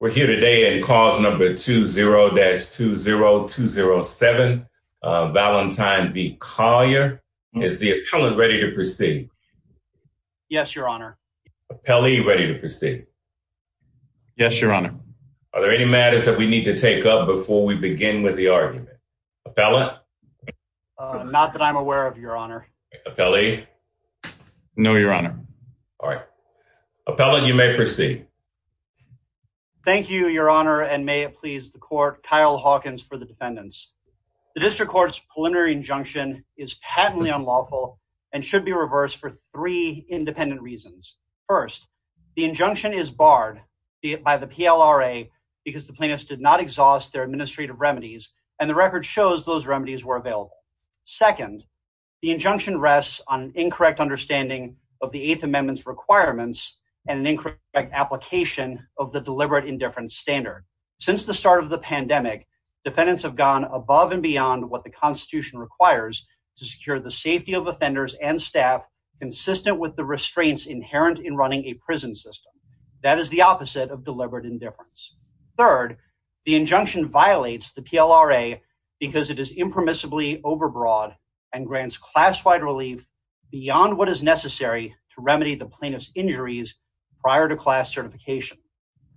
We're here today in cause number 20-20207, Valentine v. Collier. Is the appellant ready to proceed? Yes, your honor. Appellee, ready to proceed? Yes, your honor. Are there any matters that we need to take up before we begin with the argument? Appellant? Not that I'm aware of, your honor. Appellee? No, your honor. All right. Appellant, you may proceed. Thank you, your honor. And may it please the court, Kyle Hawkins for the defendants. The district court's preliminary injunction is patently unlawful and should be reversed for three independent reasons. First, the injunction is barred by the PLRA because the plaintiffs did not exhaust their administrative remedies and the record shows those remedies were available. Second, the injunction rests on an incorrect understanding of the Eighth Amendment's application of the deliberate indifference standard. Since the start of the pandemic, defendants have gone above and beyond what the Constitution requires to secure the safety of offenders and staff consistent with the restraints inherent in running a prison system. That is the opposite of deliberate indifference. Third, the injunction violates the PLRA because it is impermissibly overbroad and grants class-wide relief beyond what is necessary to remedy the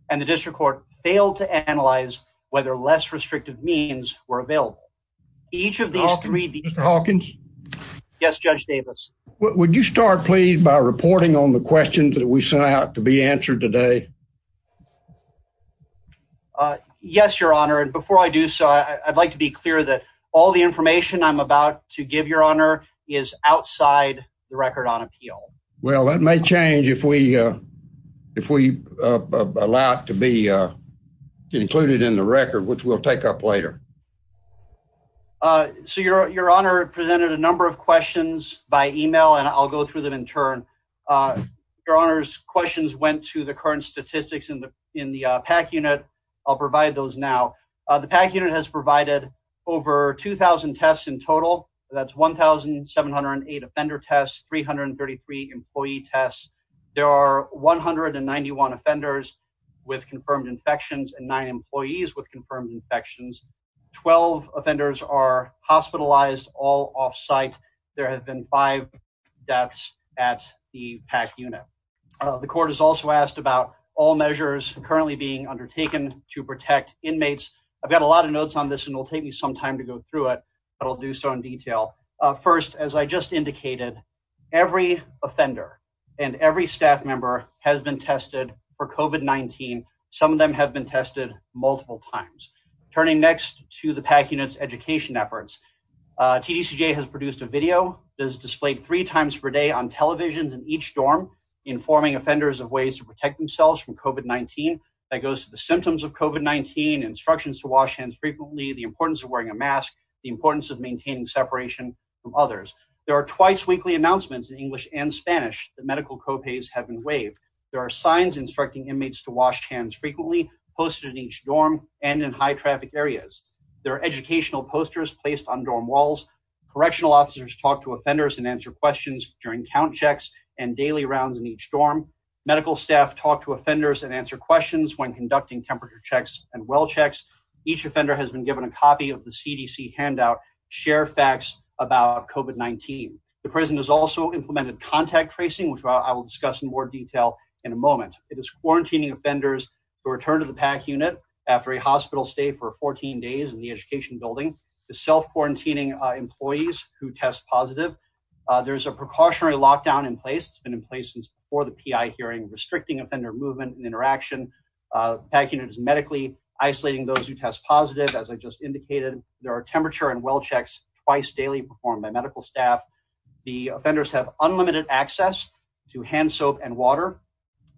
and the district court failed to analyze whether less restrictive means were available. Each of these three... Mr. Hawkins? Yes, Judge Davis. Would you start, please, by reporting on the questions that we sent out to be answered today? Yes, your honor. And before I do so, I'd like to be clear that all the information I'm about to give your honor is outside the record on appeal. Well, that may change if we allow it to be included in the record, which we'll take up later. So your honor presented a number of questions by email and I'll go through them in turn. Your honor's questions went to the current statistics in the PAC unit. I'll provide those now. The PAC unit has provided over 2,000 tests in total. That's 1,708 offender tests, 333 employee tests. There are 191 offenders with confirmed infections and nine employees with confirmed infections. 12 offenders are hospitalized, all offsite. There have been five deaths at the PAC unit. The court has also asked about all measures currently being undertaken to protect inmates. I've got a lot of notes on this and it'll take me some time to go through it, but I'll do so in detail. First, as I just indicated, every offender and every staff member has been tested for COVID-19. Some of them have been tested multiple times. Turning next to the PAC unit's education efforts, TDCJ has produced a video that is displayed three times per day on televisions in each dorm, informing offenders of ways to protect themselves from COVID-19. That goes to the symptoms of COVID-19, instructions to wash hands frequently, the importance of wearing a mask, the importance of maintaining separation from others. There are twice weekly announcements in English and Spanish that medical co-pays have been waived. There are signs instructing inmates to wash hands frequently, posted in each dorm and in high traffic areas. There are educational posters placed on dorm walls. Correctional officers talk to offenders and answer questions during count checks and daily rounds in each dorm. Medical staff talk to offenders and answer questions when conducting temperature checks and well checks. Each offender has been given a copy of the CDC handout, share facts about COVID-19. The prison has also implemented contact tracing, which I will discuss in more detail in a moment. It is quarantining offenders who return to the PAC unit after a hospital stay for 14 days in the education building. The self-quarantining employees who test positive. There's a precautionary lockdown in place. It's been in place since before the PI hearing, restricting offender movement and interaction. PAC unit is medically isolating those who test positive. As I just indicated, there are temperature and well checks twice daily performed by medical staff. The offenders have unlimited access to hand soap and water.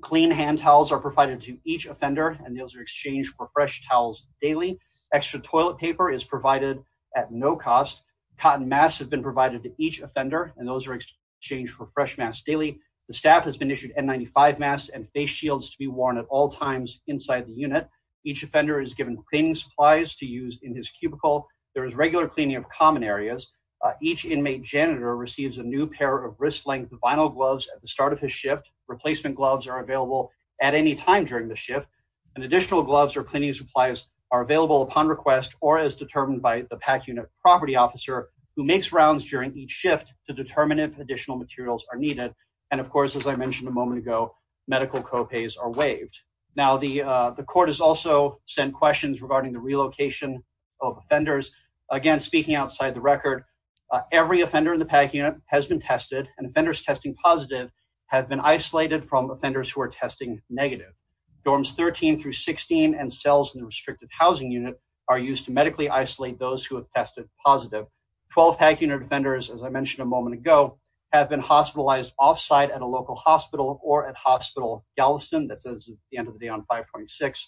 Clean hand towels are provided to each offender and those are exchanged for fresh towels daily. Extra toilet paper is provided at no cost. Cotton masks have been provided to each offender and those are exchanged for fresh masks daily. The staff has issued N95 masks and face shields to be worn at all times inside the unit. Each offender is given cleaning supplies to use in his cubicle. There is regular cleaning of common areas. Each inmate janitor receives a new pair of wrist length vinyl gloves at the start of his shift. Replacement gloves are available at any time during the shift and additional gloves or cleaning supplies are available upon request or as determined by the PAC unit property officer who makes rounds during each and of course, as I mentioned a moment ago, medical copays are waived. Now the court has also sent questions regarding the relocation of offenders. Again, speaking outside the record, every offender in the PAC unit has been tested and offenders testing positive have been isolated from offenders who are testing negative. Dorms 13 through 16 and cells in the restricted housing unit are used to medically isolate those who have tested positive. 12 PAC unit defenders, as I mentioned a moment ago, have been hospitalized off-site at a local hospital or at hospital Galveston. That says the end of the day on 5.6.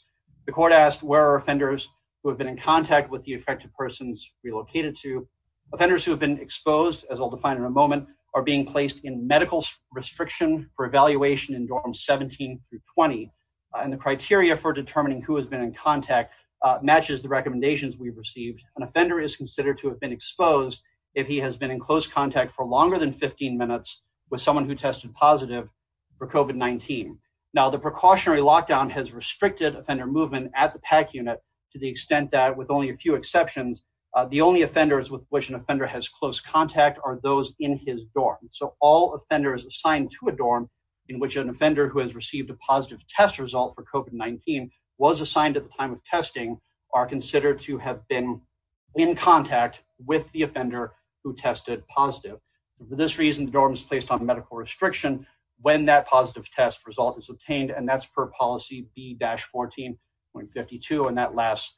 The court asked where are offenders who have been in contact with the affected persons relocated to. Offenders who have been exposed, as I'll define in a moment, are being placed in medical restriction for evaluation in dorms 17 through 20 and the criteria for determining who has been in contact matches the recommendations we've received. An offender is considered to have been exposed if he has been in close contact for longer than 15 minutes with someone who tested positive for COVID-19. Now the precautionary lockdown has restricted offender movement at the PAC unit to the extent that with only a few exceptions, the only offenders with which an offender has close contact are those in his dorm. So all offenders assigned to a dorm in which an offender who has received a positive test result for COVID-19 was assigned at the time of testing are considered to have been in contact with the offender who tested positive. For this reason, the dorm is placed on medical restriction when that positive test result is obtained and that's per policy B-14.52 and that lasts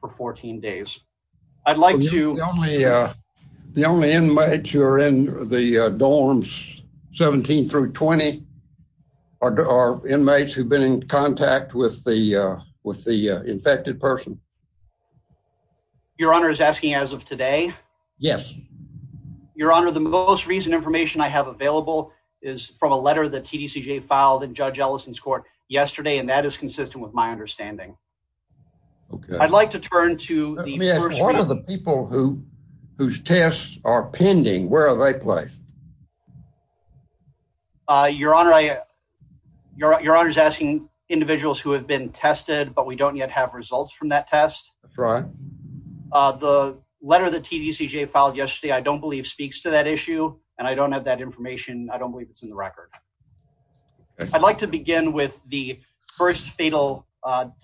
for 14 days. I'd like to... The only inmates who are in the dorms 17 through 20 are inmates who've been in contact with the infected person. Your honor is asking as of today? Yes. Your honor, the most recent information I have available is from a letter that TDCJ filed in Judge Ellison's court yesterday and that is consistent with my understanding. Okay. I'd like to turn to... Let me ask, what are the people whose tests are Your honor is asking individuals who have been tested but we don't yet have results from that test. That's right. The letter that TDCJ filed yesterday I don't believe speaks to that issue and I don't have that information. I don't believe it's in the record. I'd like to begin with the first fatal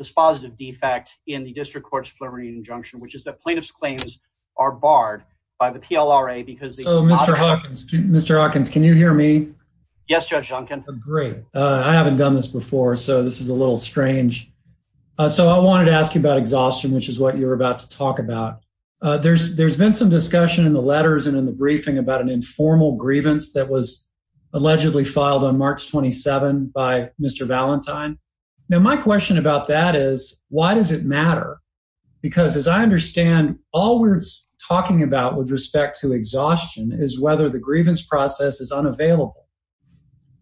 dispositive defect in the district court's preliminary injunction which is that plaintiff's claims are barred by the PLRA because... So Mr. Hawkins, can you hear me? Yes, Judge Duncan. Great. I haven't done this before so this is a little strange. So I wanted to ask you about exhaustion which is what you're about to talk about. There's been some discussion in the letters and in the briefing about an informal grievance that was allegedly filed on March 27 by Mr. Valentine. Now my question about that is, why does it matter? Because as I understand, all we're talking about with respect to exhaustion is whether the grievance process is unavailable.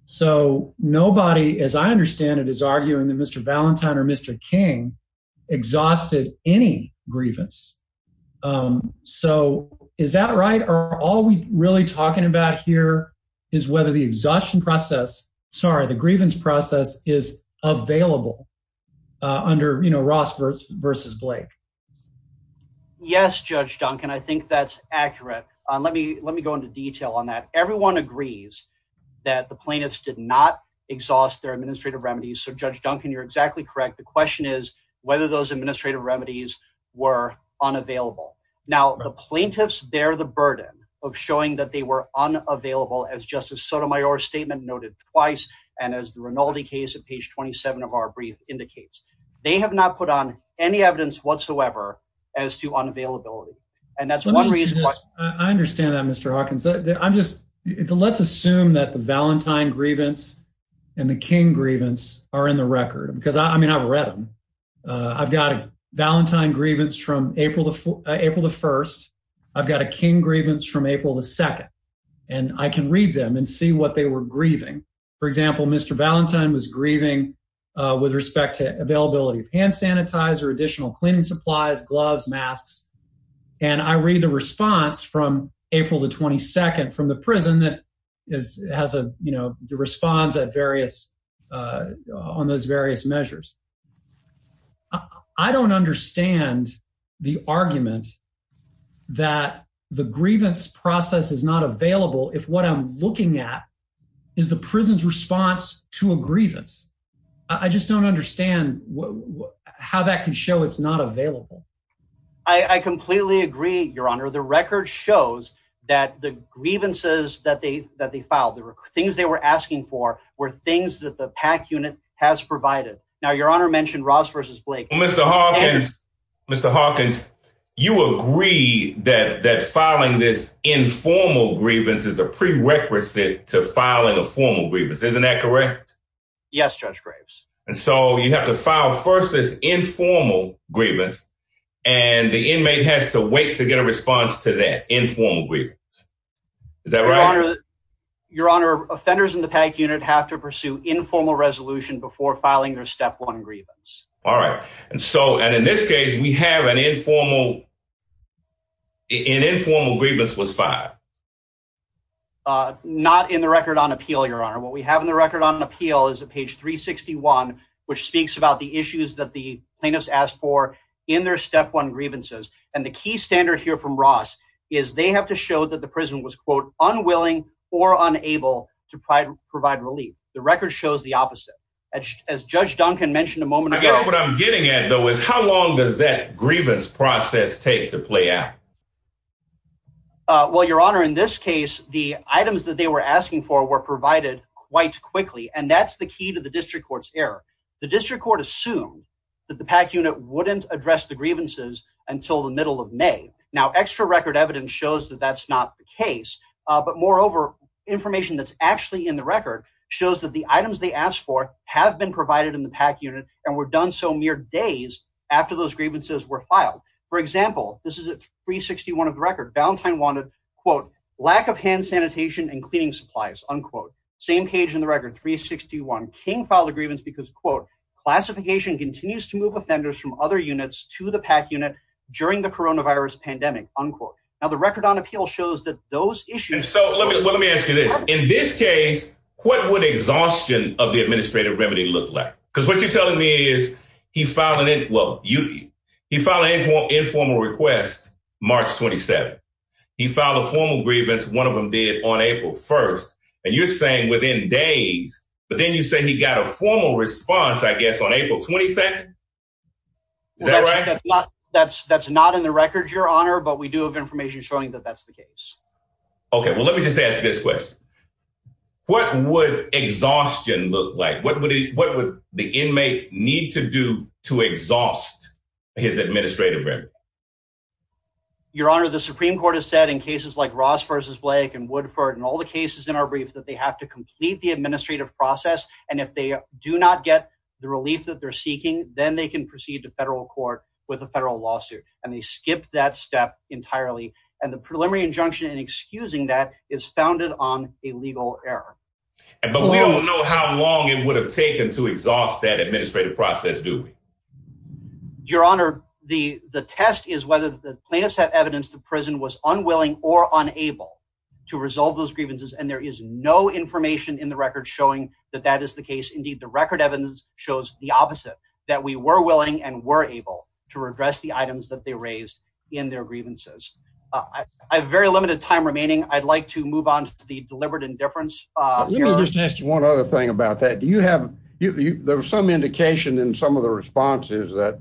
So nobody, as I understand it, is arguing that Mr. Valentine or Mr. King exhausted any grievance. So is that right? Are all we really talking about here is whether the exhaustion process, sorry, the grievance process is available under Ross versus Blake? Yes, Judge Duncan. I think that's accurate. Let me go into detail on that. Everyone agrees that the plaintiffs did not exhaust their administrative remedies. So Judge Duncan, you're exactly correct. The question is whether those administrative remedies were unavailable. Now the plaintiffs bear the burden of showing that they were unavailable as Justice Sotomayor's statement noted twice and as the Rinaldi case at page 27 of our brief indicates. They have not put any evidence whatsoever as to unavailability, and that's one reason. I understand that, Mr Hawkins. Let's assume that the Valentine grievance and the King grievance are in the record, because I mean, I've read them. I've got a Valentine grievance from April the first. I've got a King grievance from April the second, and I can read them and see what they were additional cleaning supplies, gloves, masks, and I read the response from April the 22nd from the prison that has a response on those various measures. I don't understand the argument that the grievance process is not available if what I'm looking at is the prison's response to a grievance. I just don't understand how that can show it's not available. I completely agree, Your Honor. The record shows that the grievances that they filed, the things they were asking for, were things that the PAC unit has provided. Now, Your Honor mentioned Ross versus Blake. Mr. Hawkins, you agree that filing this informal grievance is a prerequisite to filing a formal grievance. Isn't that correct? Yes, Judge Graves. And so you have to file first this informal grievance, and the inmate has to wait to get a response to that informal grievance. Is that right? Your Honor, offenders in the PAC unit have to pursue informal resolution before filing their step one grievance. All right. And so, and in this case, we have an appeal. Not in the record on appeal, Your Honor. What we have in the record on appeal is at page 361, which speaks about the issues that the plaintiffs asked for in their step one grievances. And the key standard here from Ross is they have to show that the prison was, quote, unwilling or unable to provide relief. The record shows the opposite. As Judge Duncan mentioned a moment ago. I guess what I'm getting at, though, is how long does that grievance process take to play out? Well, Your Honor, in this case, the items that they were asking for were provided quite quickly, and that's the key to the district court's error. The district court assumed that the PAC unit wouldn't address the grievances until the middle of May. Now, extra record evidence shows that that's not the case. But moreover, information that's actually in the record shows that the items they asked for have been provided in the PAC unit and were done so mere days after those grievances. And so let me ask you this. In this case, what would exhaustion of the administrative remedy look like? Because what you're telling me is he filed an informal request March 27th. He filed a formal grievance. One of them did on April 1st. And you're saying within days, but then you say he got a formal response, I guess, on April 22nd. That's not in the record, Your Honor, but we do have information showing that that's the case. Okay, well, let me just ask this question. What would exhaustion look like? What would the inmate need to do to exhaust his administrative remedy? Your Honor, the Supreme Court has said in cases like Ross v. Blake and Woodford and all the cases in our brief that they have to complete the administrative process. And if they do not get the relief that they're seeking, then they can proceed to federal court with a federal lawsuit. And they skipped that step entirely. And the preliminary injunction in excusing that is founded on a legal error. But we don't know how long it would have taken to exhaust that administrative process, do we? Your Honor, the test is whether the plaintiffs have evidence the prison was unwilling or unable to resolve those grievances. And there is no information in the record showing that that is the case. Indeed, the record evidence shows the opposite, that we were willing and were able to redress the items that they raised in their grievances. I have very limited time remaining. I'd like to move on to the deliberate indifference. Let me just ask you one other thing about that. Do you have, there was some indication in some of the responses that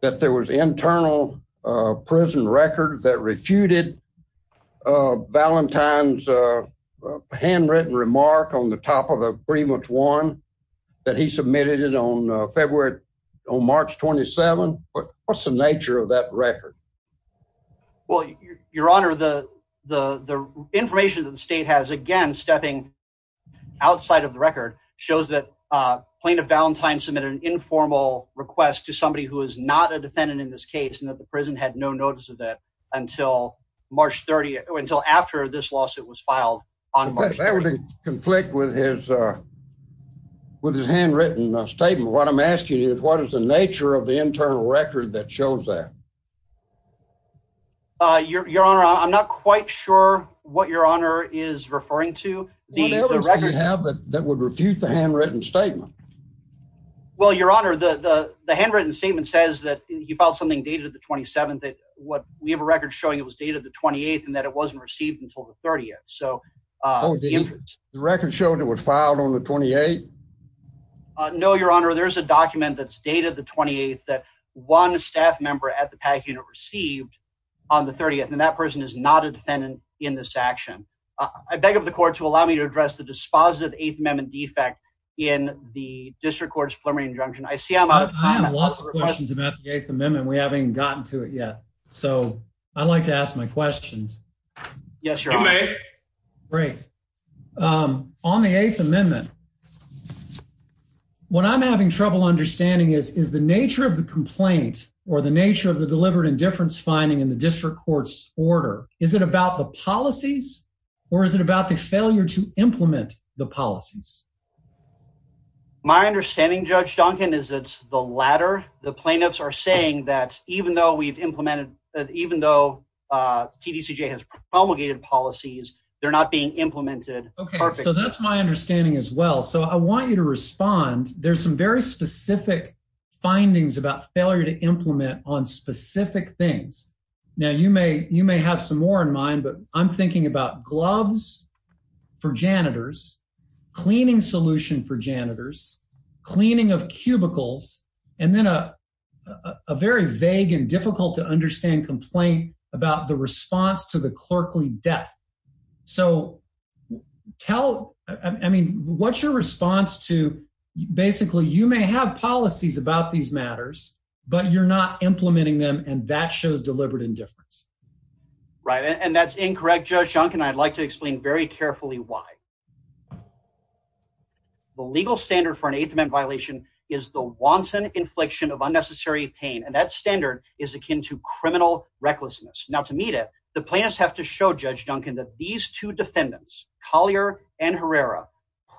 that there was internal prison record that refuted Valentine's handwritten remark on the top of a pretty much one that he submitted it on March 27. What's the nature of that record? Well, Your Honor, the information that the state has, again, stepping outside of the record shows that plaintiff Valentine submitted an informal request to somebody who is not a defendant in this case and that the prison had no notice of that until March 30, until after this lawsuit was filed on March 30. That would conflict with his handwritten statement. What I'm asking you is what is the nature of the internal record that shows that? Your Honor, I'm not quite sure what Your Honor is referring to. Whatever you have that would refute the handwritten statement. Well, Your Honor, the handwritten statement says that he filed something dated the 27th. We have a record showing it was dated the 28th and that it wasn't received until the 30th. So the record showed it was filed on the 28th. No, Your Honor, there's a document that's dated the 28th that one staff member at the PAC unit received on the 30th, and that person is not a defendant in this action. I beg of the court to allow me to address the dispositive Eighth Amendment defect in the district court's preliminary injunction. I see I'm out of time. I have lots of questions about the Eighth Amendment. We haven't gotten to it yet, so I'd like to ask my questions. Yes, Your Honor. You may. Great. On the Eighth Amendment, what I'm having trouble understanding is the nature of the complaint or the nature of the deliberate indifference finding in the district court's order. Is it about the policies, or is it about the failure to implement the policies? My understanding, Judge Duncan, is it's the latter. The plaintiffs are saying that even though we've implemented, even though TDCJ has promulgated policies, they're not being implemented. Okay, so that's my understanding as well. So I want you to respond. There's some very specific findings about failure to implement on specific things. Now, you may have some more in mind, but I'm thinking about gloves for janitors, cleaning solution for janitors, cleaning of cubicles, and then a very vague and difficult to understand complaint about the response to the clerkly death. So what's your response to, basically, you may have policies about these matters, but you're not implementing them, and that shows deliberate indifference. Right, and that's incorrect, Judge Duncan. I'd like to explain very carefully why. The legal standard for an Eighth Amendment violation is the wanton infliction of unnecessary pain, and that standard is akin to criminal recklessness. Now, to meet it, the plaintiffs have to show, Judge Duncan, that these two defendants, Collier and Herrera,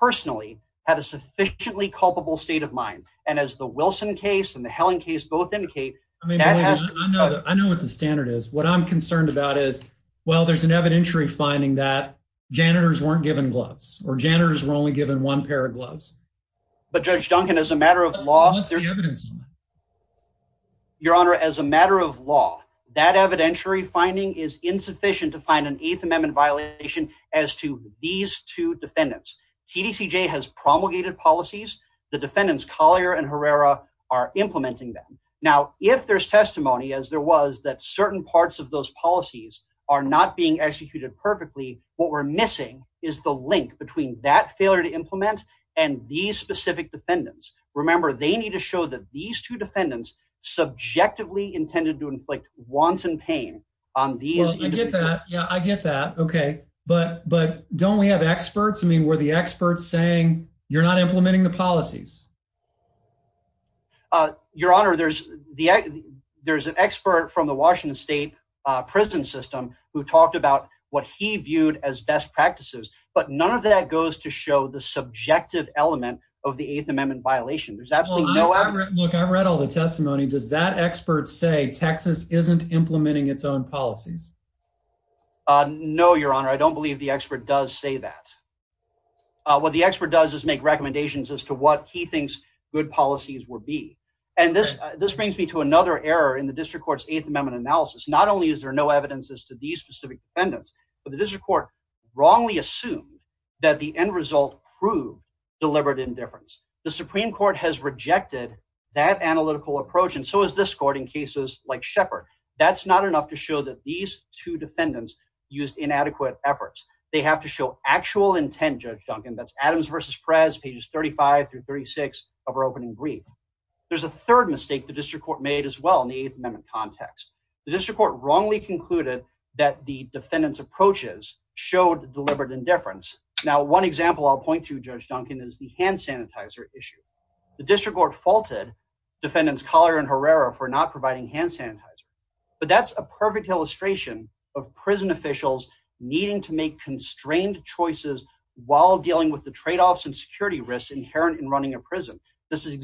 personally had a sufficiently culpable state of mind, and as the Wilson case and the Helen case both indicate... I know what the standard is. What I'm concerned about is, well, there's an evidentiary finding that janitors weren't given gloves, or janitors were only given one pair of gloves. Your Honor, as a matter of law, that evidentiary finding is insufficient to find an Eighth Amendment violation as to these two defendants. TDCJ has promulgated policies. The defendants, Collier and Herrera, are implementing them. Now, if there's testimony, as there was, that certain parts of those policies are not being executed perfectly, what we're missing is the link between that failure to implement and these specific defendants. Remember, they need to show that these two defendants subjectively intended to inflict wanton pain on these... Well, I get that. Yeah, I get that. Okay. But don't we have experts? I mean, were the experts saying, you're not implementing the policies? Your Honor, there's an expert from the Washington State prison system who talked about what he viewed as best practices, but none of that goes to show the subjective element of the Eighth Amendment violation. There's absolutely no... Look, I read all the testimony. Does that expert say Texas isn't implementing its own policies? No, Your Honor. I don't believe the expert does say that. What the expert does is make recommendations as to what he thinks good policies would be. And this brings me to another error in the District Court's Eighth Amendment analysis. Not only is there no evidence as to these specific defendants, but the District Court wrongly assumed that the end result proved deliberate indifference. The Supreme Court has rejected that analytical approach, and so has this court in cases like Shepard. That's not enough to show that these two defendants used inadequate efforts. They have to show actual intent, Judge Duncan. That's Adams versus Perez, pages 35 through 36 of our opening brief. There's a third mistake the District Court made as well in the Eighth Amendment context. The District Court wrongly concluded that the defendant's approaches showed deliberate indifference. Now, one example I'll point to, Judge Duncan, is the hand sanitizer issue. The District Court faulted defendants Collier and Herrera for not providing hand sanitizer, but that's a perfect illustration of prison officials needing to make constrained choices while dealing with the trade-offs and security risks inherent in running a prison. This is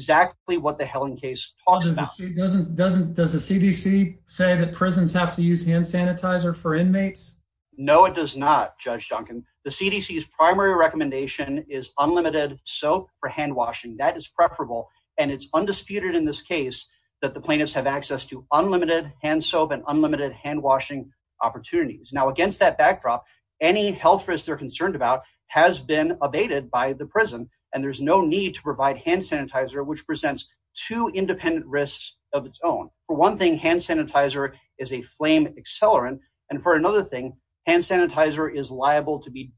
that prisons have to use hand sanitizer for inmates? No, it does not, Judge Duncan. The CDC's primary recommendation is unlimited soap for handwashing. That is preferable, and it's undisputed in this case that the plaintiffs have access to unlimited hand soap and unlimited handwashing opportunities. Now, against that backdrop, any health risk they're concerned about has been abated by the prison, and there's no need to provide hand sanitizer, which presents two independent risks of its own. For one thing, hand sanitizer is a flame accelerant, and for another thing, hand sanitizer is liable to be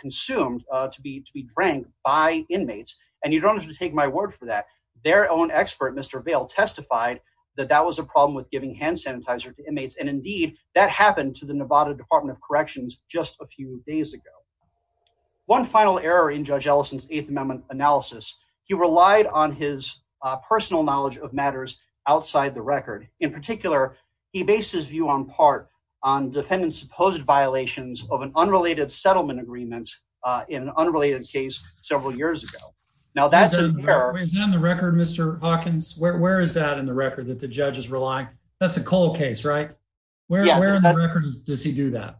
consumed, to be drank by inmates, and you don't have to take my word for that. Their own expert, Mr. Vail, testified that that was a problem with giving hand sanitizer to inmates, and indeed, that happened to the Nevada Department of Corrections just a few days ago. One final error in Judge Ellison's Eighth Amendment analysis, he relied on his personal knowledge of matters outside the record. In particular, he based his view on part on defendants' supposed violations of an unrelated settlement agreement in an unrelated case several years ago. Now, that's an error. Is it in the record, Mr. Hawkins? Where is that in the record, that the judge is relying? That's a Cole case, right? Where in the record does he do that?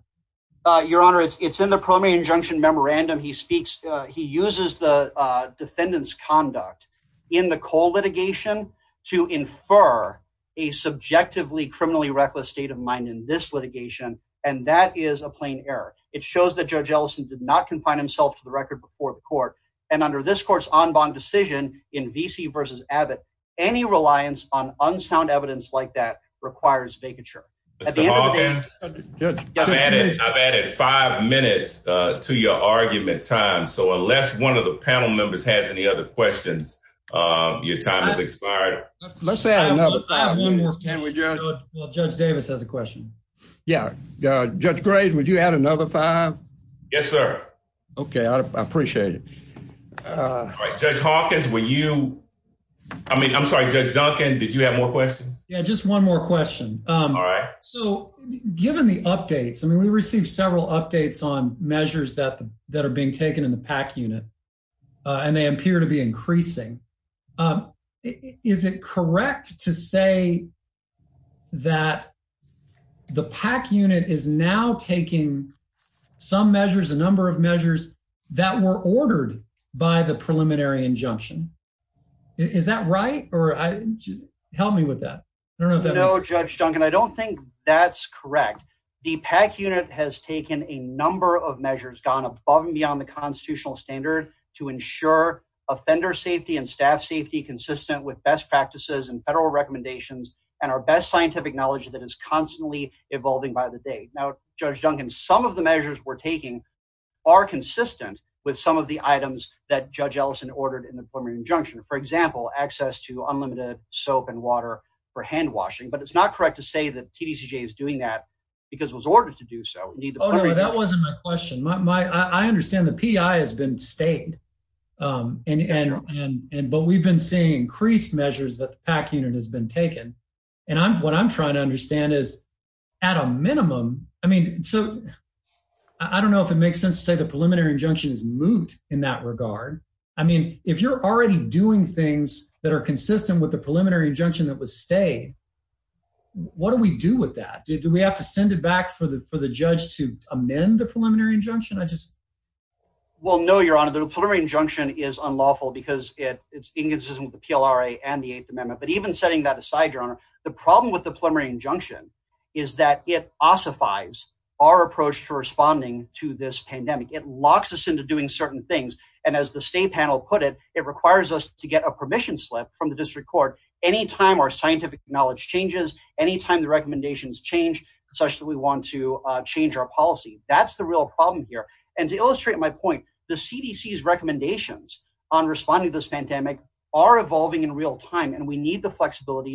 Your Honor, it's in the primary injunction memorandum. He speaks, he uses the defendant's conduct in the Cole litigation to infer a subjectively criminally reckless state of mind in this litigation, and that is a plain error. It shows that Judge Ellison did not confine himself to the record before the court, and under this court's en banc decision in Vesey versus Abbott, any reliance on unsound evidence like that requires vacature. Mr. Hawkins, I've added five minutes to your argument time, so unless one of the panel members has any other questions, your time has expired. Let's add another five minutes, can we, Judge Davis has a question. Yeah, Judge Graves, would you add another five? Yes, sir. Okay, I appreciate it. All right, Judge Hawkins, were you, I mean, I'm sorry, Judge Duncan, did you have more questions? Yeah, just one more question. All right. So, given the updates, I mean, we received several updates on measures that are being taken in the PAC unit, and they appear to be increasing. Is it correct to say that the PAC unit is now taking some measures, a number of measures, that were ordered by the preliminary injunction? Is that right? Or help me with that. No, Judge Duncan, I don't think that's correct. The PAC unit has taken a number of measures, gone above and beyond the constitutional standard to ensure offender safety and staff safety, consistent with best practices and federal recommendations, and our best scientific knowledge that is constantly evolving by the day. Now, Judge Duncan, some of the measures we're taking are consistent with some of the items that Judge Ellison ordered in the preliminary injunction. For example, access to unlimited soap and water for hand washing, but it's not correct to say that TDCJ is doing that because it was ordered to do so. Oh, no, that wasn't my question. I understand the PEI has been stayed, but we've been seeing increased measures that the PAC unit has been taking. What I'm trying to understand is, at a minimum, I don't know if it makes sense to say the preliminary injunction is moot in that regard. If you're already doing things that are consistent with the preliminary injunction that was stayed, what do we do with that? Do we have to send it back for the judge to amend the preliminary injunction? Well, no, Your Honor, the preliminary injunction is unlawful because it's inconsistent with the PLRA and the Eighth Amendment. Setting that aside, Your Honor, the problem with the preliminary injunction is that it ossifies our approach to responding to this pandemic. It locks us into doing certain things, and as the state panel put it, it requires us to get a permission slip from the district court any time our scientific knowledge changes, any time the recommendations change, such that we want to change our policy. That's the real problem here. And to illustrate my point, the CDC's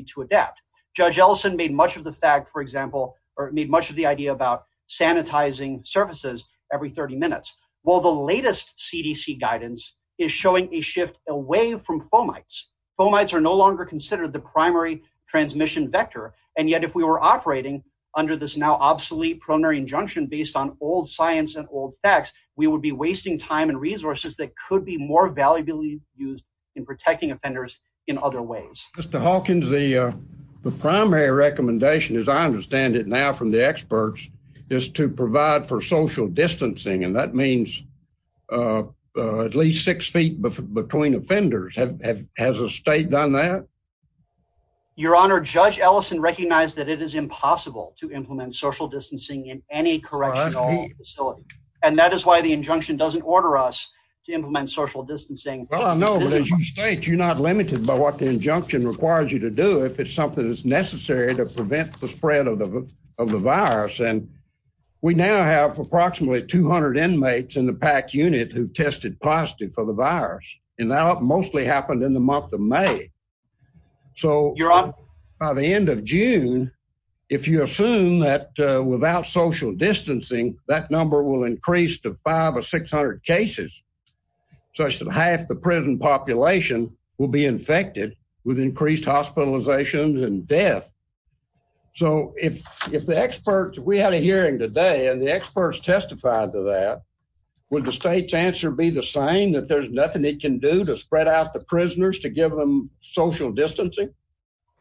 to adapt. Judge Ellison made much of the fact, for example, or made much of the idea about sanitizing surfaces every 30 minutes. Well, the latest CDC guidance is showing a shift away from fomites. Fomites are no longer considered the primary transmission vector, and yet if we were operating under this now obsolete preliminary injunction based on old science and old facts, we would be wasting time and resources that could be more valuably used in protecting offenders in other ways. Mr. Hawkins, the primary recommendation, as I understand it now from the experts, is to provide for social distancing, and that means at least six feet between offenders. Has the state done that? Your Honor, Judge Ellison recognized that it is impossible to implement social distancing in any correctional facility, and that is why the injunction doesn't order us to implement social distancing. Well, I know, but as you state, you're not limited by what the injunction requires you to do if it's something that's necessary to prevent the spread of the virus. And we now have approximately 200 inmates in the PAC unit who tested positive for the virus, and that mostly happened in the month of May. So by the end of June, if you assume that without social distancing, that number will increase to five or six hundred cases, such that half the prison population will be infected with increased hospitalizations and death. So if the experts, if we had a hearing today and the experts testified to that, would the state's answer be the same, that there's nothing it can do to spread out the prisoners to give them social distancing?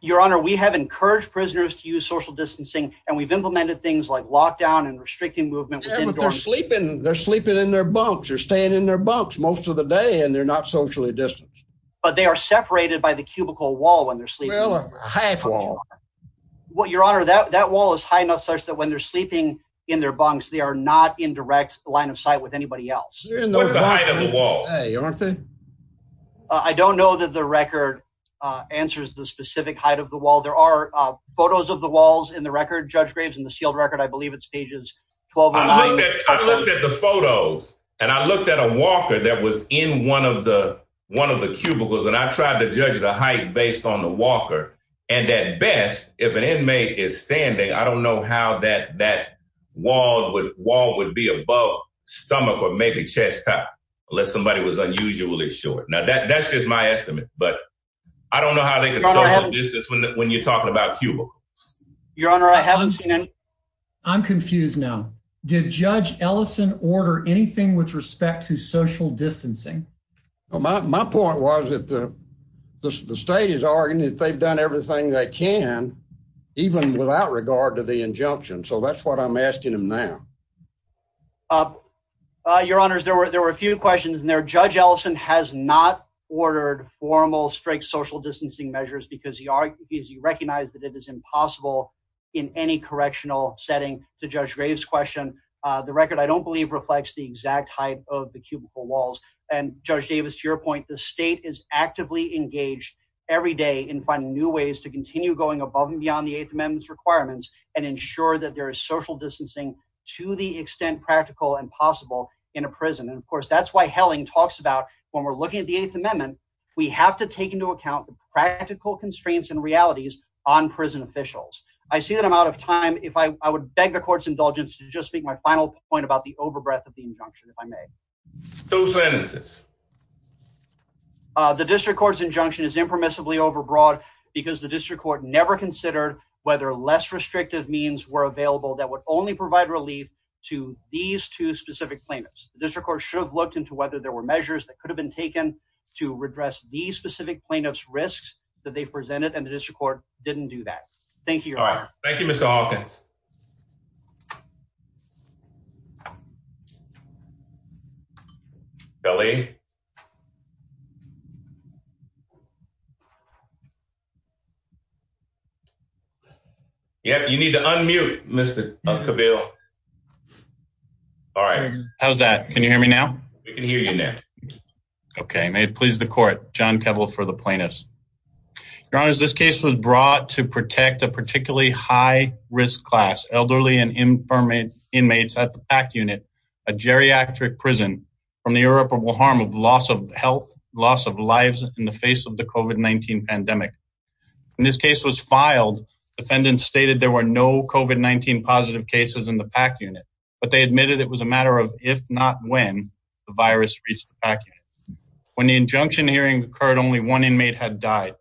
Your Honor, we have encouraged prisoners to use social distancing, and we've implemented things like lockdown and restricting movement. They're sleeping in their bunks. They're staying in their bunks most of the day, and they're not socially distanced. But they are separated by the cubicle wall when they're sleeping. Well, a half wall. Your Honor, that wall is high enough such that when they're sleeping in their bunks, they are not in direct line of sight with anybody else. What's the height of the wall? I don't know that the record answers the specific height of the wall. There are photos of the walls in the record, Judge Graves, in the sealed record. I believe it's pages 12 and 11. I looked at the photos, and I looked at a walker that was in one of the cubicles, and I tried to judge the height based on the walker. And at best, if an inmate is standing, I don't know how that wall would be above stomach or maybe chest height, unless somebody was unusually short. Now, that's just my estimate, but I don't know how they can social distance when you're talking about cubicles. Your Honor, I haven't seen any. I'm confused now. Did Judge Ellison order anything with respect to social distancing? My point was that the state is arguing that they've done everything they can, even without regard to the injunction. So that's what I'm asking them now. Your Honors, there were a few questions in there. Judge Ellison has not ordered formal strike social distancing measures because he recognized that it is impossible in any correctional setting. To Judge Graves' question, the record, I don't believe, reflects the exact height of the cubicle walls. And Judge Davis, to your point, the state is actively engaged every day in finding new ways to continue going above and beyond the Eighth Amendment's requirements and ensure that there is social distancing to the extent practical and possible in a prison. And of course, that's why Helling talks about, when we're looking at the Eighth Amendment, we have to take into account the practical constraints and realities on prison officials. I see that I'm out of time. I would beg the Court's indulgence to just make my final point about the overbreath of the injunction, if I may. Two sentences. The District Court's injunction is impermissibly overbroad because the District Court never considered whether less restrictive means were available that would only provide relief to these two specific plaintiffs. The District Court should have looked into whether there were measures that addressed these specific plaintiffs' risks that they presented, and the District Court didn't do that. Thank you, Your Honor. All right. Thank you, Mr. Hawkins. Kelly? Yep, you need to unmute, Mr. Cabile. All right. How's that? Can you hear me now? We can hear you now. Okay. May it please the Court. John Cabile for the plaintiffs. Your Honor, this case was brought to protect a particularly high-risk class, elderly and inmates at the PAC unit, a geriatric prison from the irreparable harm of loss of health, loss of lives in the face of the COVID-19 pandemic. When this case was filed, defendants stated there were no COVID-19 positive cases in the PAC unit, but they admitted it was a matter of if not when the virus reached the PAC unit. When the injunction hearing occurred, only one inmate had died.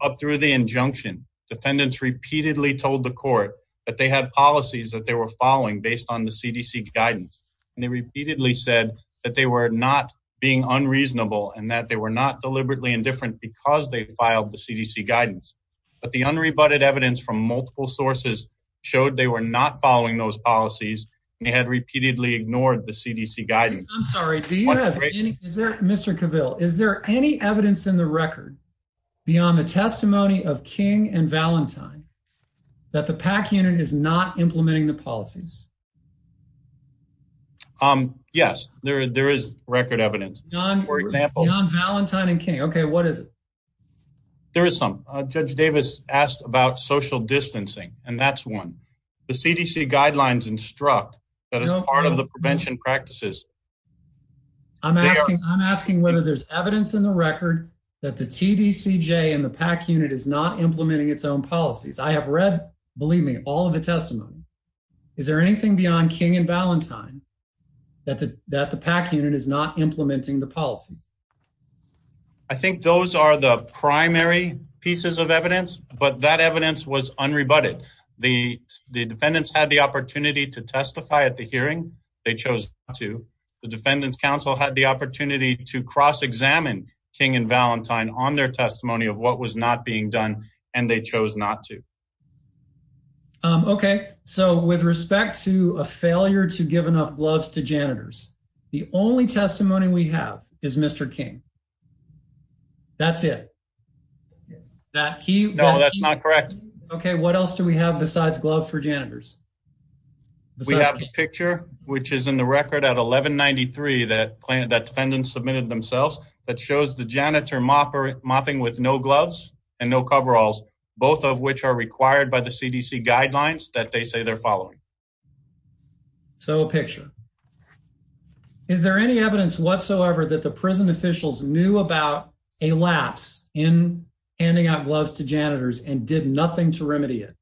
Up through the injunction, defendants repeatedly told the Court that they had policies that they were following based on the CDC guidance, and they repeatedly said that they were not being unreasonable and that they were not deliberately indifferent because they filed the CDC guidance. But the unrebutted evidence from multiple sources showed they were not following those policies. They had repeatedly ignored the CDC guidance. Mr. Cabile, is there any evidence in the record beyond the testimony of King and Valentine that the PAC unit is not implementing the policies? Yes, there is record evidence. Beyond Valentine and King, okay, what is it? There is some. Judge Davis asked about social distancing, and that's one. The CDC guidelines instruct that as part of the prevention practices. I'm asking whether there's evidence in the record that the TDCJ and the PAC unit is not implementing its own policies. I have read, believe me, all of the testimony. Is there anything beyond King and Valentine that the PAC unit is not implementing the policies? I think those are the primary pieces of evidence, but that evidence was unrebutted. The defendants had the opportunity to testify at the hearing. They chose not to. The Defendants Council had the opportunity to cross-examine King and Valentine on their testimony of what was not being done, and they chose not to. Okay, so with respect to a failure to give enough gloves to janitors, the only testimony we have is Mr. King. That's it? No, that's not correct. Okay, what else do we have besides gloves for janitors? We have a picture which is in the record at 1193 that defendants submitted themselves that shows the janitor mopping with no gloves and no coveralls, both of which are required by the CDC guidelines that they say they're following. So a picture. Is there any evidence whatsoever that the prison officials knew about a lapse in handing out gloves to janitors and did nothing to remedy it?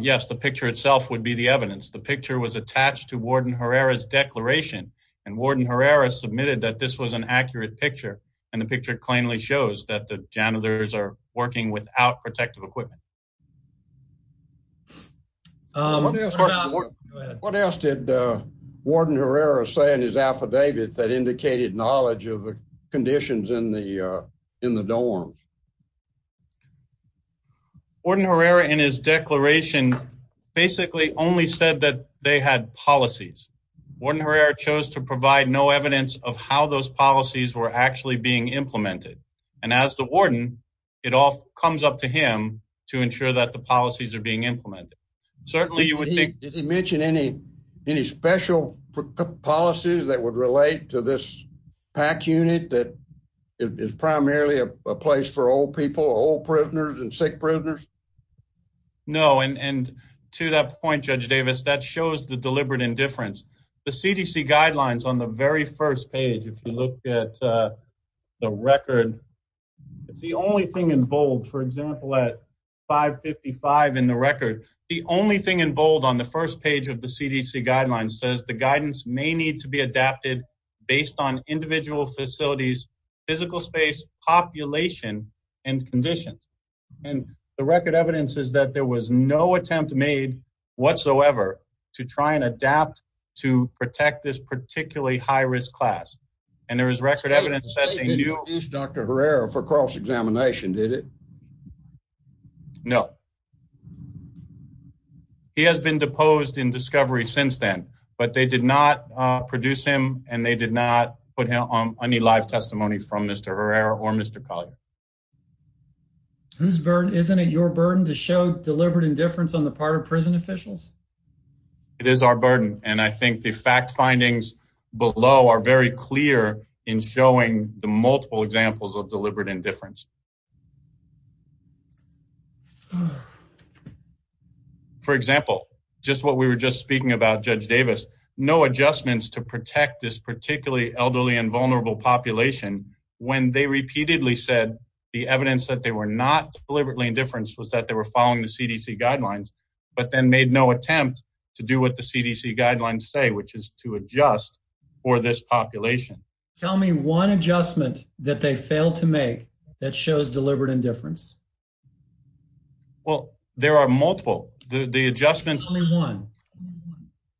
Yes, the picture itself would be the evidence. The picture was attached to Warden Herrera's declaration, and Warden Herrera submitted that this was an accurate picture, and the picture plainly shows that the janitors are working without protective equipment. What else did Warden Herrera say in his affidavit that indicated knowledge of the conditions in the dorms? Warden Herrera in his declaration basically only said that they had policies. Warden Herrera chose to provide no evidence of how those policies were actually implemented, and as the warden, it all comes up to him to ensure that the policies are being implemented. Did he mention any special policies that would relate to this PAC unit that is primarily a place for old people, old prisoners and sick prisoners? No, and to that point, Judge Davis, that shows the deliberate indifference. The CDC guidelines on the very first page, if you look at the record, it's the only thing in bold. For example, at 555 in the record, the only thing in bold on the first page of the CDC guidelines says the guidance may need to be adapted based on individual facilities, physical space, population, and conditions, and the record evidence is that there was no attempt made whatsoever to try and adapt to protect this and there is record evidence that they knew Dr. Herrera for cross-examination, did it? No. He has been deposed in discovery since then, but they did not produce him and they did not put him on any live testimony from Mr. Herrera or Mr. Collier. Isn't it your burden to show deliberate indifference on the part of prison officials? It is our burden, and I think the fact findings below are very clear in showing the multiple examples of deliberate indifference. For example, just what we were just speaking about, Judge Davis, no adjustments to protect this particularly elderly and vulnerable population when they repeatedly said the evidence that they were not deliberately indifference was that they were following the CDC guidelines, but then made no attempt to do what the CDC guidelines say, which is to adjust for this population. Tell me one adjustment that they failed to make that shows deliberate indifference. Well, there are multiple adjustments.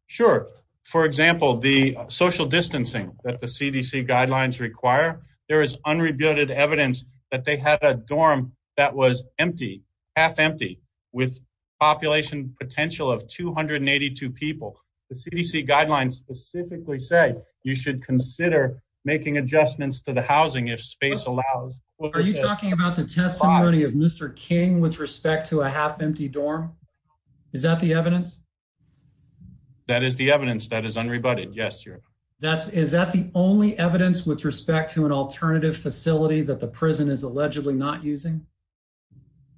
Sure. For example, the social distancing that the CDC guidelines require, there is unrebutted evidence that they had a dorm that was empty, half empty, with population potential of 282 people. The CDC guidelines specifically say you should consider making adjustments to the housing if space allows. Are you talking about the testimony of Mr. King with respect to a half empty dorm? Is that the evidence? That is the evidence that is unrebutted. Yes. Is that the only evidence with respect to an alternative facility that the prison is allegedly not using?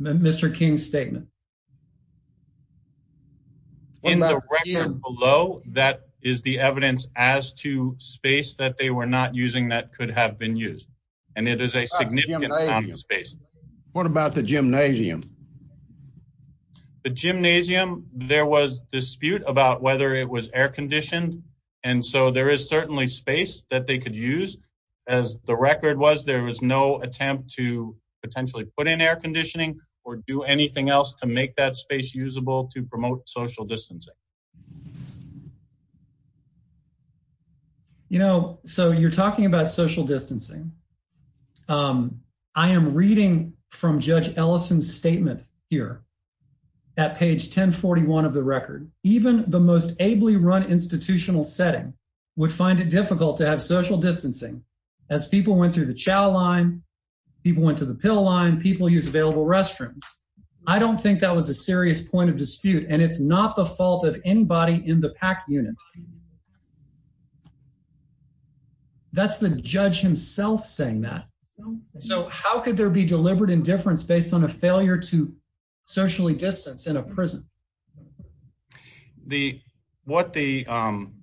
Mr. King's statement. In the record below, that is the evidence as to space that they were not using that could have been used, and it is a significant amount of space. What about the gymnasium? The gymnasium, there was dispute about whether it was air conditioned, and so there is certainly space that they could use. As the record was, there was no attempt to potentially put in air make that space usable to promote social distancing. You know, so you're talking about social distancing. I am reading from Judge Ellison's statement here at page 1041 of the record. Even the most ably run institutional setting would find it difficult to have social distancing as people went through the chow line, people went the pill line, people use available restrooms. I don't think that was a serious point of dispute, and it's not the fault of anybody in the PAC unit. That's the judge himself saying that. So how could there be deliberate indifference based on a failure to socially distance in a prison? What the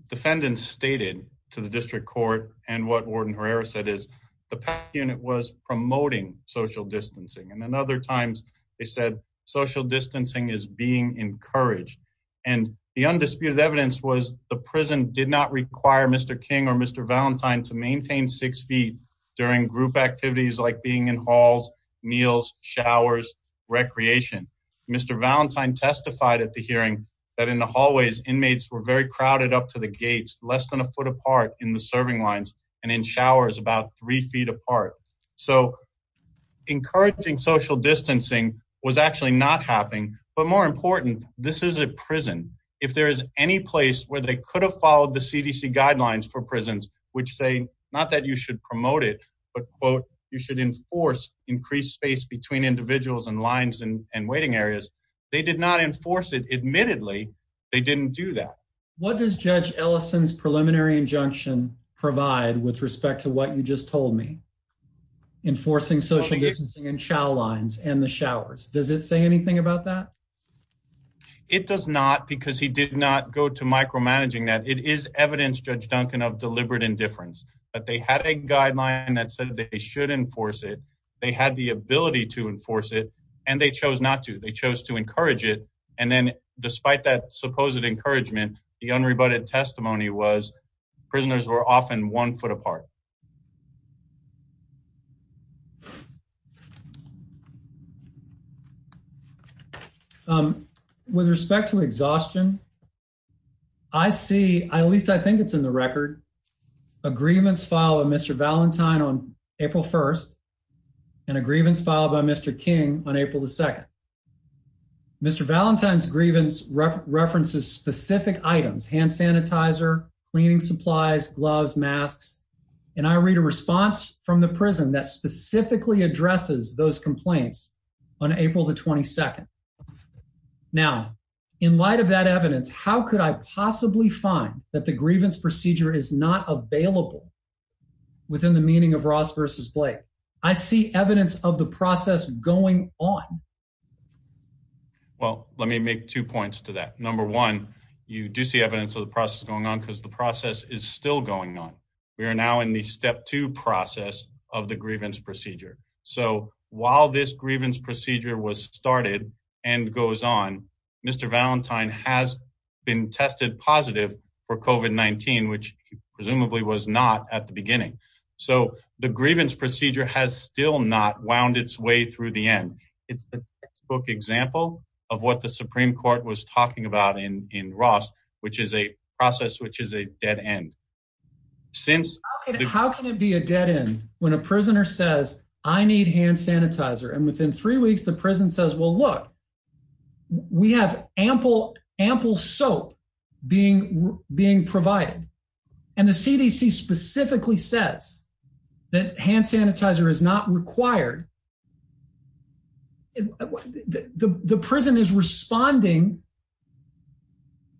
defendant stated to the district court and what Warden Herrera said is the PAC unit was promoting social distancing, and then other times they said social distancing is being encouraged, and the undisputed evidence was the prison did not require Mr. King or Mr. Valentine to maintain six feet during group activities like being in halls, meals, showers, recreation. Mr. Valentine testified at the hearing that in the hallways, inmates were very crowded up to the gates, less than a foot apart in the serving lines, and in showers about three feet apart. So encouraging social distancing was actually not happening, but more important, this is a prison. If there is any place where they could have followed the CDC guidelines for prisons, which say not that you should promote it, but quote, you should enforce increased space between individuals and lines and waiting areas, they did not enforce it. Admittedly, they didn't do that. What does Judge Ellison's preliminary injunction provide with respect to what you just told me? Enforcing social distancing in shower lines and the showers. Does it say anything about that? It does not because he did not go to micromanaging that. It is evidence, Judge Duncan, of deliberate indifference, but they had a guideline that said that they should enforce it. They had the ability to enforce it, and they chose not to. They chose to encourage it, and then despite that supposed encouragement, the unrebutted testimony was prisoners were often one foot apart. With respect to exhaustion, I see, at least I think it's in the record, a grievance filed by Mr. Valentine on April 1st and a grievance filed by Mr. King on April 2nd. Mr. Valentine's grievance references specific items, hand sanitizer, cleaning supplies, gloves, masks, and I read a response from the prison that specifically addresses those complaints on April the 22nd. Now, in light of that evidence, how could I possibly find that the grievance procedure is not available within the meaning of Ross versus Blake? I see evidence of the process going on. Well, let me make two points to that. Number one, you do see evidence of the process going on because the process is still going on. We are now in the step two process of the grievance procedure. So while this grievance procedure was started and goes on, Mr. Valentine has been tested positive for COVID-19, which presumably was not at the beginning. So the it's the textbook example of what the Supreme Court was talking about in Ross, which is a process which is a dead end. How can it be a dead end when a prisoner says, I need hand sanitizer? And within three weeks, the prison says, well, look, we have ample, ample soap being provided. And the CDC specifically says that hand sanitizer is not required. The prison is responding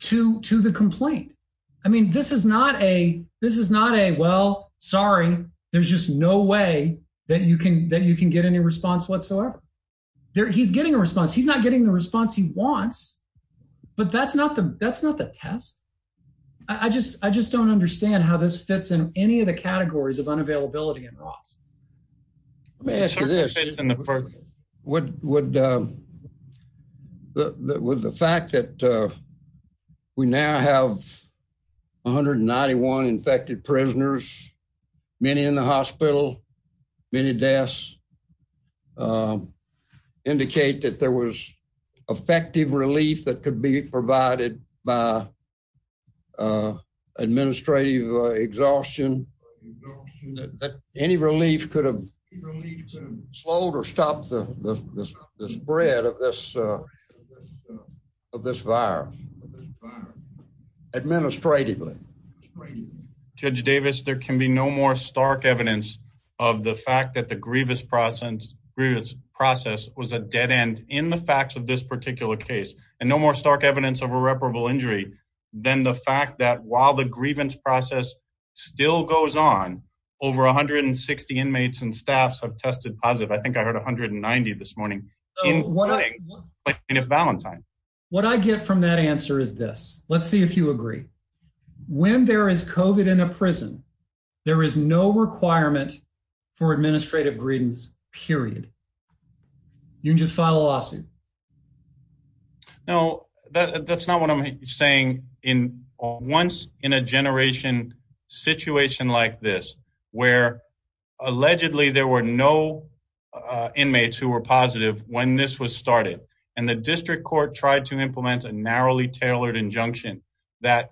to the complaint. I mean, this is not a, well, sorry, there's just no way that you can get any response whatsoever. He's getting a response. He's not getting the response he wants, but that's not the test. I just don't understand how this fits in any of the categories of unavailability in Ross. Let me ask you this. Would the fact that we now have 191 infected prisoners, many in the hospital, many deaths, indicate that there was effective relief that could be provided by administrative exhaustion, that any relief could have slowed or stopped the spread of this virus? Administratively. Judge Davis, there can be no more stark evidence of the fact that the grievous process was a dead end in the facts of this particular case, and no more stark evidence of irreparable injury than the fact that while the grievance process still goes on, over 160 inmates and staffs have tested positive. I think I heard 190 this morning. What I get from that answer is this. Let's see if you agree. When there is COVID in a prison, there is no requirement for administrative grievance, period. You can just file a lawsuit. No, that's not what I'm saying. Once in a generation situation like this, where allegedly there were no inmates who were positive when this was started, and the district court tried to implement a narrowly tailored injunction that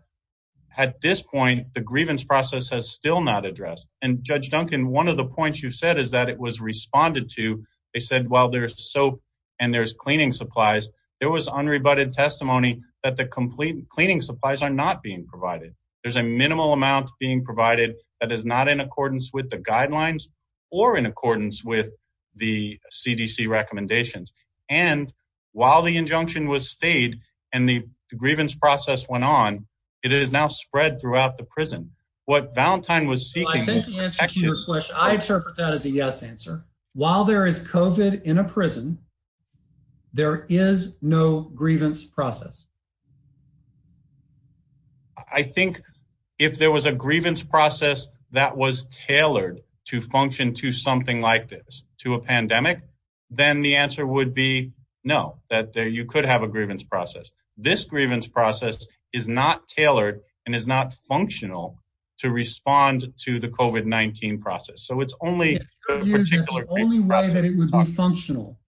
at this point, the grievance process has not addressed. Judge Duncan, one of the points you said is that it was responded to. They said while there's soap and cleaning supplies, there was unrebutted testimony that the cleaning supplies are not being provided. There's a minimal amount being provided that is not in accordance with the guidelines or in accordance with the CDC recommendations. While the injunction was what Valentine was seeking, I interpret that as a yes answer. While there is COVID in a prison, there is no grievance process. I think if there was a grievance process that was tailored to function to something like this, to a pandemic, then the answer would be no, that you could have a grievance process. This grievance process is not tailored and is not functional to respond to the COVID-19 process. So it's only a particular way that it would be functional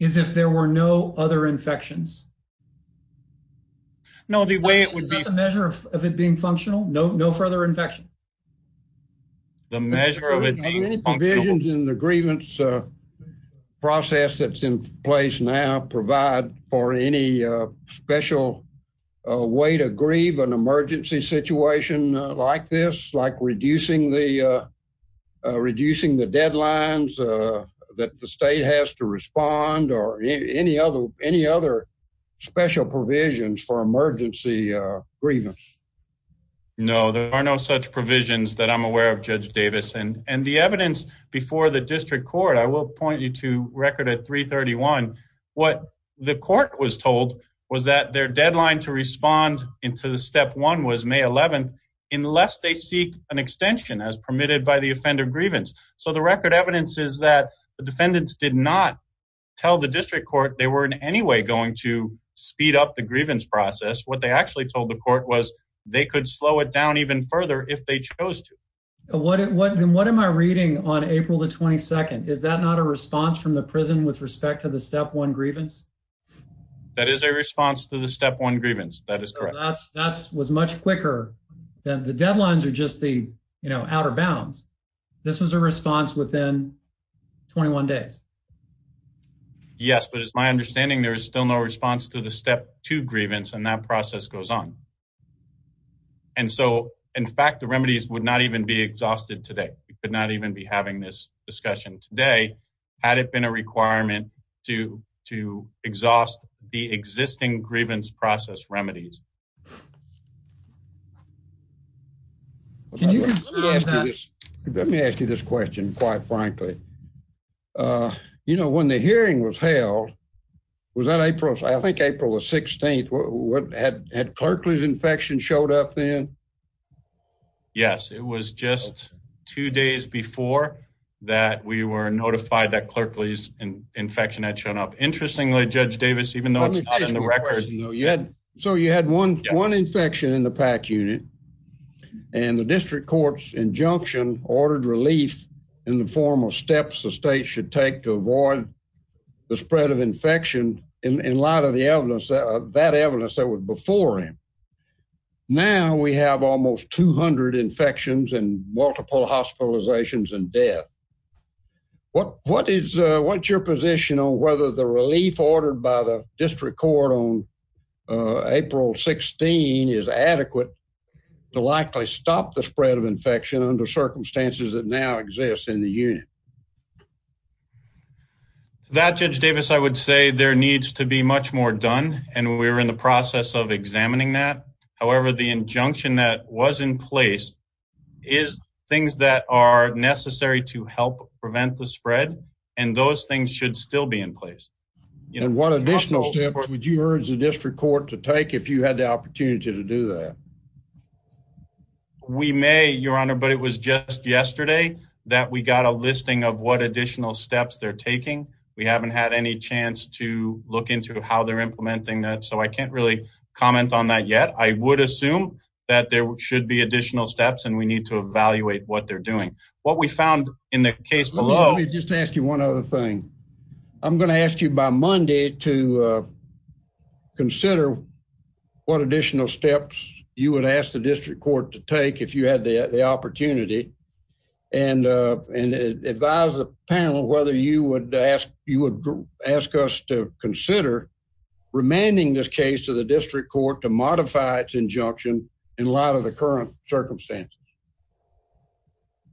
is if there were no other infections. No, the way it would be a measure of it being functional. No, no further infection. The measure of provisions in the grievance process that's in place now provide for any special way to grieve an emergency situation like this, like reducing the deadlines that the state has to respond or any other special provisions for emergency grievance. No, there are no such provisions that I'm aware of, Judge Davis. And the evidence before the deadline to respond to the step one was May 11th, unless they seek an extension as permitted by the offender grievance. So the record evidence is that the defendants did not tell the district court they were in any way going to speed up the grievance process. What they actually told the court was they could slow it down even further if they chose to. What am I reading on April the 22nd? Is that not a response from the prison with respect to the step one grievance? That is a response to the step one grievance. That is correct. That was much quicker. The deadlines are just the outer bounds. This was a response within 21 days. Yes, but it's my understanding there is still no response to the step two grievance and that process goes on. And so in fact, the remedies would not even be exhausted today. We could exhaust the existing grievance process remedies. Let me ask you this question, quite frankly. You know, when the hearing was held, was that April? I think April the 16th. What had had Clarkley's infection showed up then? Yes, it was just two days before that we were notified that Clarkley's infection had shown up. Interestingly, Judge Davis, even though it's not in the record. So you had one infection in the PAC unit and the district court's injunction ordered relief in the form of steps the state should take to avoid the spread of infection in light of the that evidence that was before him. Now we have almost 200 infections and multiple hospitalizations and death. What what is what's your position on whether the relief ordered by the district court on April 16 is adequate to likely stop the spread of infection under circumstances that now exists in the unit? That Judge Davis, I would say there needs to be much more done, and we're in the process of examining that. However, the injunction that was in place is things that are necessary to help prevent the spread, and those things should still be in place. What additional steps would you urge the district court to take if you had the opportunity to do that? We may, Your Honor, but it was just yesterday that we got a listing of what additional steps they're taking. We haven't had any chance to look into how they're implementing that, so I can't really comment on that yet. I would assume that there should be additional steps, and we need to evaluate what they're doing. What we found in the case below. Let me just ask you one other thing. I'm going to ask you by Monday to consider what additional steps you would ask the district court to take if you had the opportunity, and advise the panel whether you would ask us to consider remanding this case to the district court to modify its injunction in light of the current circumstances.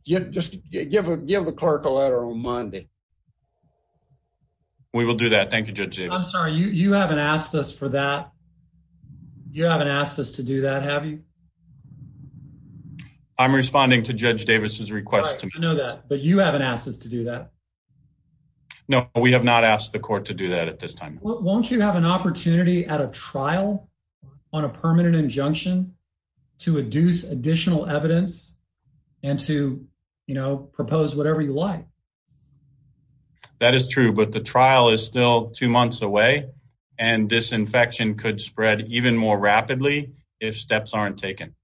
Just give the clerk a letter on Monday. We will do that. Thank you, Judge Davis. I'm sorry, you haven't asked us for that. You haven't asked us to do that, have you? I'm responding to Judge Davis's request. I know that, but you haven't asked us to do that. No, we have not asked the court to do that at this time. Won't you have an opportunity at a trial on a permanent injunction to adduce additional evidence and to propose whatever you like? That is true, but the trial is still two months away, and this infection could spread even more rapidly if steps aren't taken.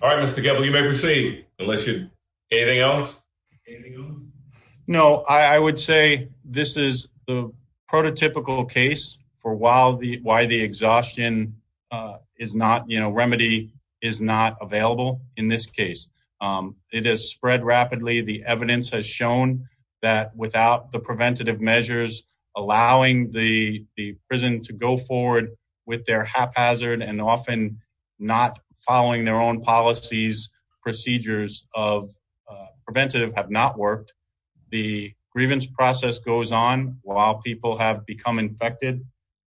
All right, Mr. Goebbels, you may proceed. Anything else? No, I would say this is the prototypical case for why the exhaustion remedy is not available in this case. It has spread rapidly. The evidence has shown that without the preventative measures allowing the prison to go forward with their haphazard and often not following their own policies, procedures of preventative have not worked. The grievance process goes on while people have become infected,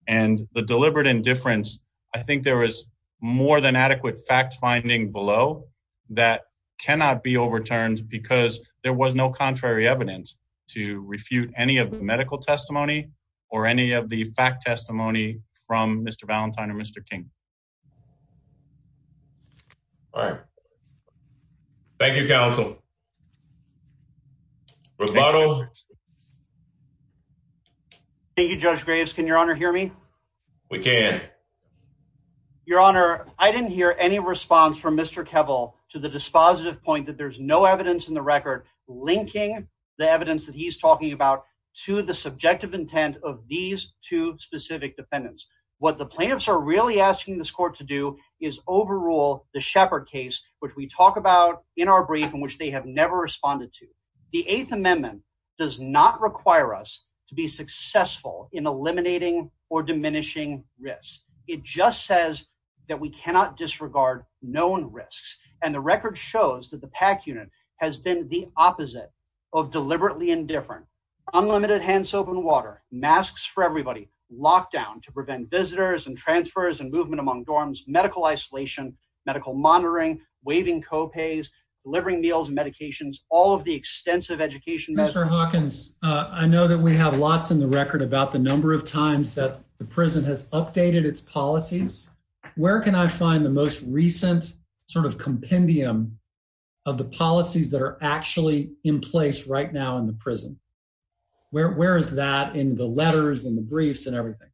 and the deliberate indifference, I think there is more than adequate fact-finding below that cannot be overturned because there was no contrary evidence to refute any of the medical testimony or any of the fact testimony from Mr. Valentine or Mr. King. All right. Thank you, counsel. Thank you, Judge Graves. Can your honor hear me? We can. Your honor, I didn't hear any response from Mr. Kevel to the dispositive point that there's no evidence in the record linking the evidence that he's talking about to the subjective intent of these two specific defendants. What the plaintiffs are really asking this court to do is overrule the Shepherd case, which we talk about in our brief in which they have never responded to. The Eighth Amendment does not require us to be successful in eliminating or diminishing risk. It just says that we cannot disregard known risks, and the record shows that the PAC unit has been the opposite of deliberately indifferent. Unlimited hand soap and water, masks for everybody, lockdown to prevent visitors and transfers and movement among dorms, medical isolation, medical monitoring, waiving copays, delivering meals and medications, all of the extensive education. Mr. Hawkins, I know that we have lots in the record about the number of times that the prison has updated its policies. Where can I find the most recent sort of compendium of the policies that are actually in place right now in the prison? Where is that in the letters and the briefs and everything?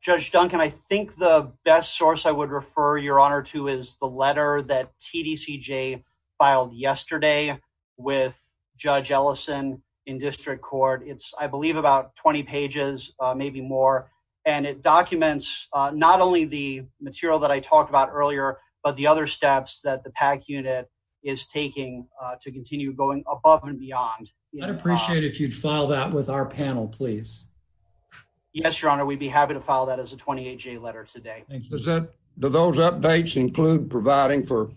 Judge Duncan, I think the best source I would refer your honor to is the letter that TDCJ filed yesterday with Judge Ellison in district court. It's, I believe, about 20 pages, maybe more, and it documents not only the material that I talked about earlier, but the other steps that the PAC unit is taking to continue going above and beyond. I'd appreciate it if you'd file that with our panel, please. Yes, your honor, we'd be happy to file that as a 28-J letter today. Do those updates include providing for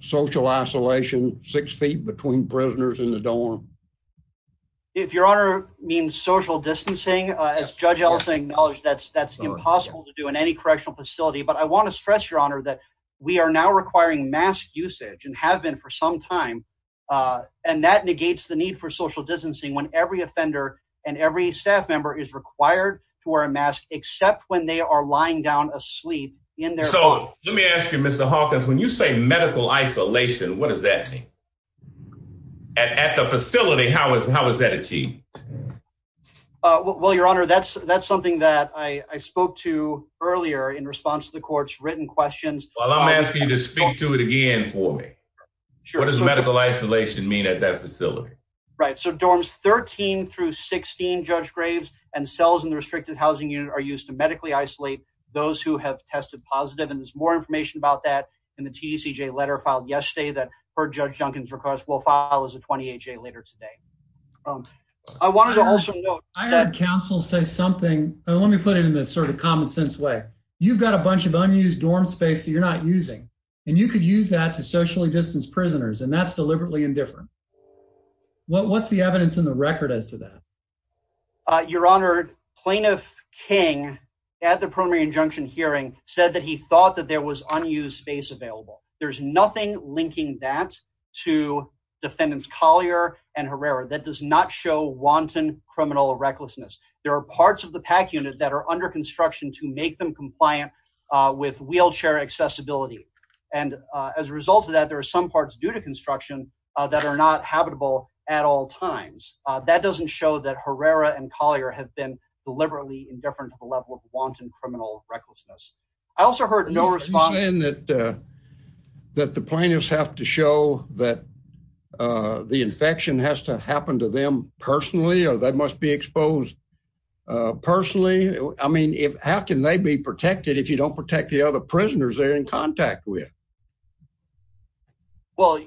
social isolation six feet between prisoners in the dorm? If your honor means social distancing, as Judge Ellison acknowledged, that's impossible to do in any correctional facility. But I want to stress, your honor, that we are now requiring mask usage and have been for some time. And that negates the need for social distancing when every offender and every staff member is required to wear a mask, except when they are lying down asleep. So let me ask you, Mr. Hawkins, when you say medical isolation, what does that mean? At the facility, how is that achieved? Well, your honor, that's something that I spoke to earlier in response to the court's written questions. Well, I'm asking you to speak to it again for me. What does medical isolation mean at that facility? Right. So dorms 13 through 16, Judge Graves, and cells in the restricted housing unit are used to medically isolate those who have tested positive. And there's more information about that in the TCJ letter filed yesterday that per Judge Duncan's request, will file as a 28-J later today. I wanted to also note... I heard counsel say something. Let me put it in this sort of common sense way. You've got a bunch of unused dorm space that you're not using, and you could use that to socially distance prisoners, and that's deliberately indifferent. What's the evidence in the record as to that? Your honor, Plaintiff King, at the primary injunction hearing, said that he thought that was unused space available. There's nothing linking that to defendants Collier and Herrera. That does not show wanton criminal recklessness. There are parts of the PAC unit that are under construction to make them compliant with wheelchair accessibility. And as a result of that, there are some parts due to construction that are not habitable at all times. That doesn't show that Herrera and Collier have been deliberately indifferent to the level of responsibility. Are you saying that the plaintiffs have to show that the infection has to happen to them personally, or they must be exposed personally? I mean, how can they be protected if you don't protect the other prisoners they're in contact with? Well,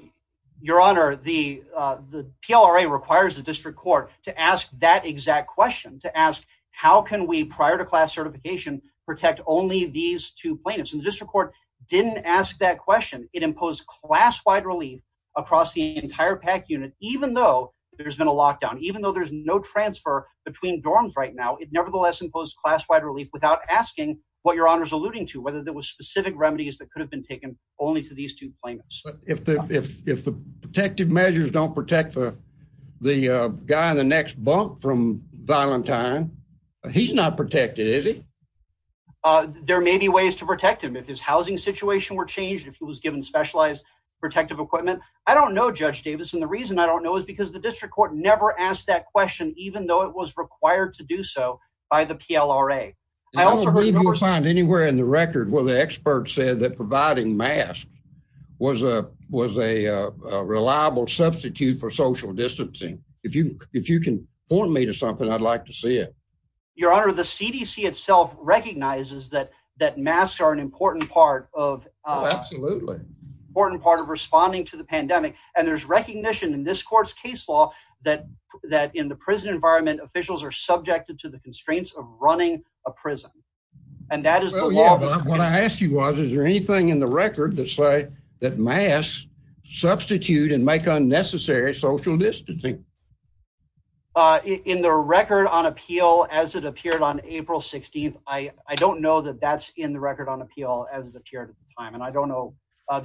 your honor, the PLRA requires the district court to ask that exact question, to ask, how can we, prior to class certification, protect only these two plaintiffs? And the district court didn't ask that question. It imposed class-wide relief across the entire PAC unit, even though there's been a lockdown, even though there's no transfer between dorms right now, it nevertheless imposed class-wide relief without asking what your honor's alluding to, whether there was specific remedies that could have been taken only to these two plaintiffs. If the protective measures don't protect the guy in the next bunk from violent time, he's not protected, is he? There may be ways to protect him if his housing situation were changed, if he was given specialized protective equipment. I don't know, Judge Davis, and the reason I don't know is because the district court never asked that question, even though it was required to do so by the PLRA. I don't believe you will find anywhere in the record where the expert said that providing masks was a reliable substitute for social distancing. If you can point me to something, I'd like to see it. Your honor, the CDC itself recognizes that masks are an important part of responding to the pandemic. And there's recognition in this court's case law that in the prison environment, officials are subjected to the constraints of running a prison. And that is the law. What I asked you was, is there anything in the record that say that masks substitute and make unnecessary social distancing? In the record on appeal as it appeared on April 16th, I don't know that that's in the record on appeal as it appeared at the time. And I don't know about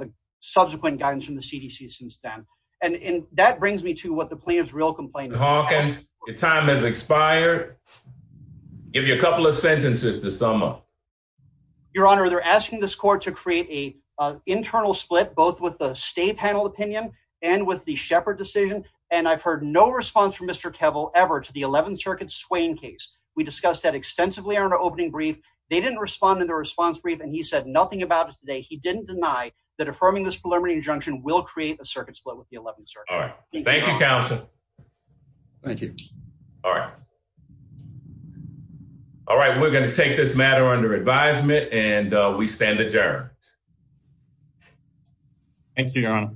the subsequent guidance from the CDC since then. And that brings me to what the plaintiff's real complaint is. Your time has expired. Give you a couple of sentences to sum up. Your honor, they're asking this court to create a internal split, both with the state panel opinion and with the shepherd decision. And I've heard no response from Mr. Kevel ever to the 11th circuit swaying case. We discussed that extensively on our opening brief. They didn't respond to the response brief and he said nothing about it today. He didn't deny that affirming this preliminary injunction will create a circuit split with the 11th circuit. All right. Thank you, counsel. Thank you. All right. All right. We're going to take this matter under advisement and we stand adjourned. Thank you, your honor.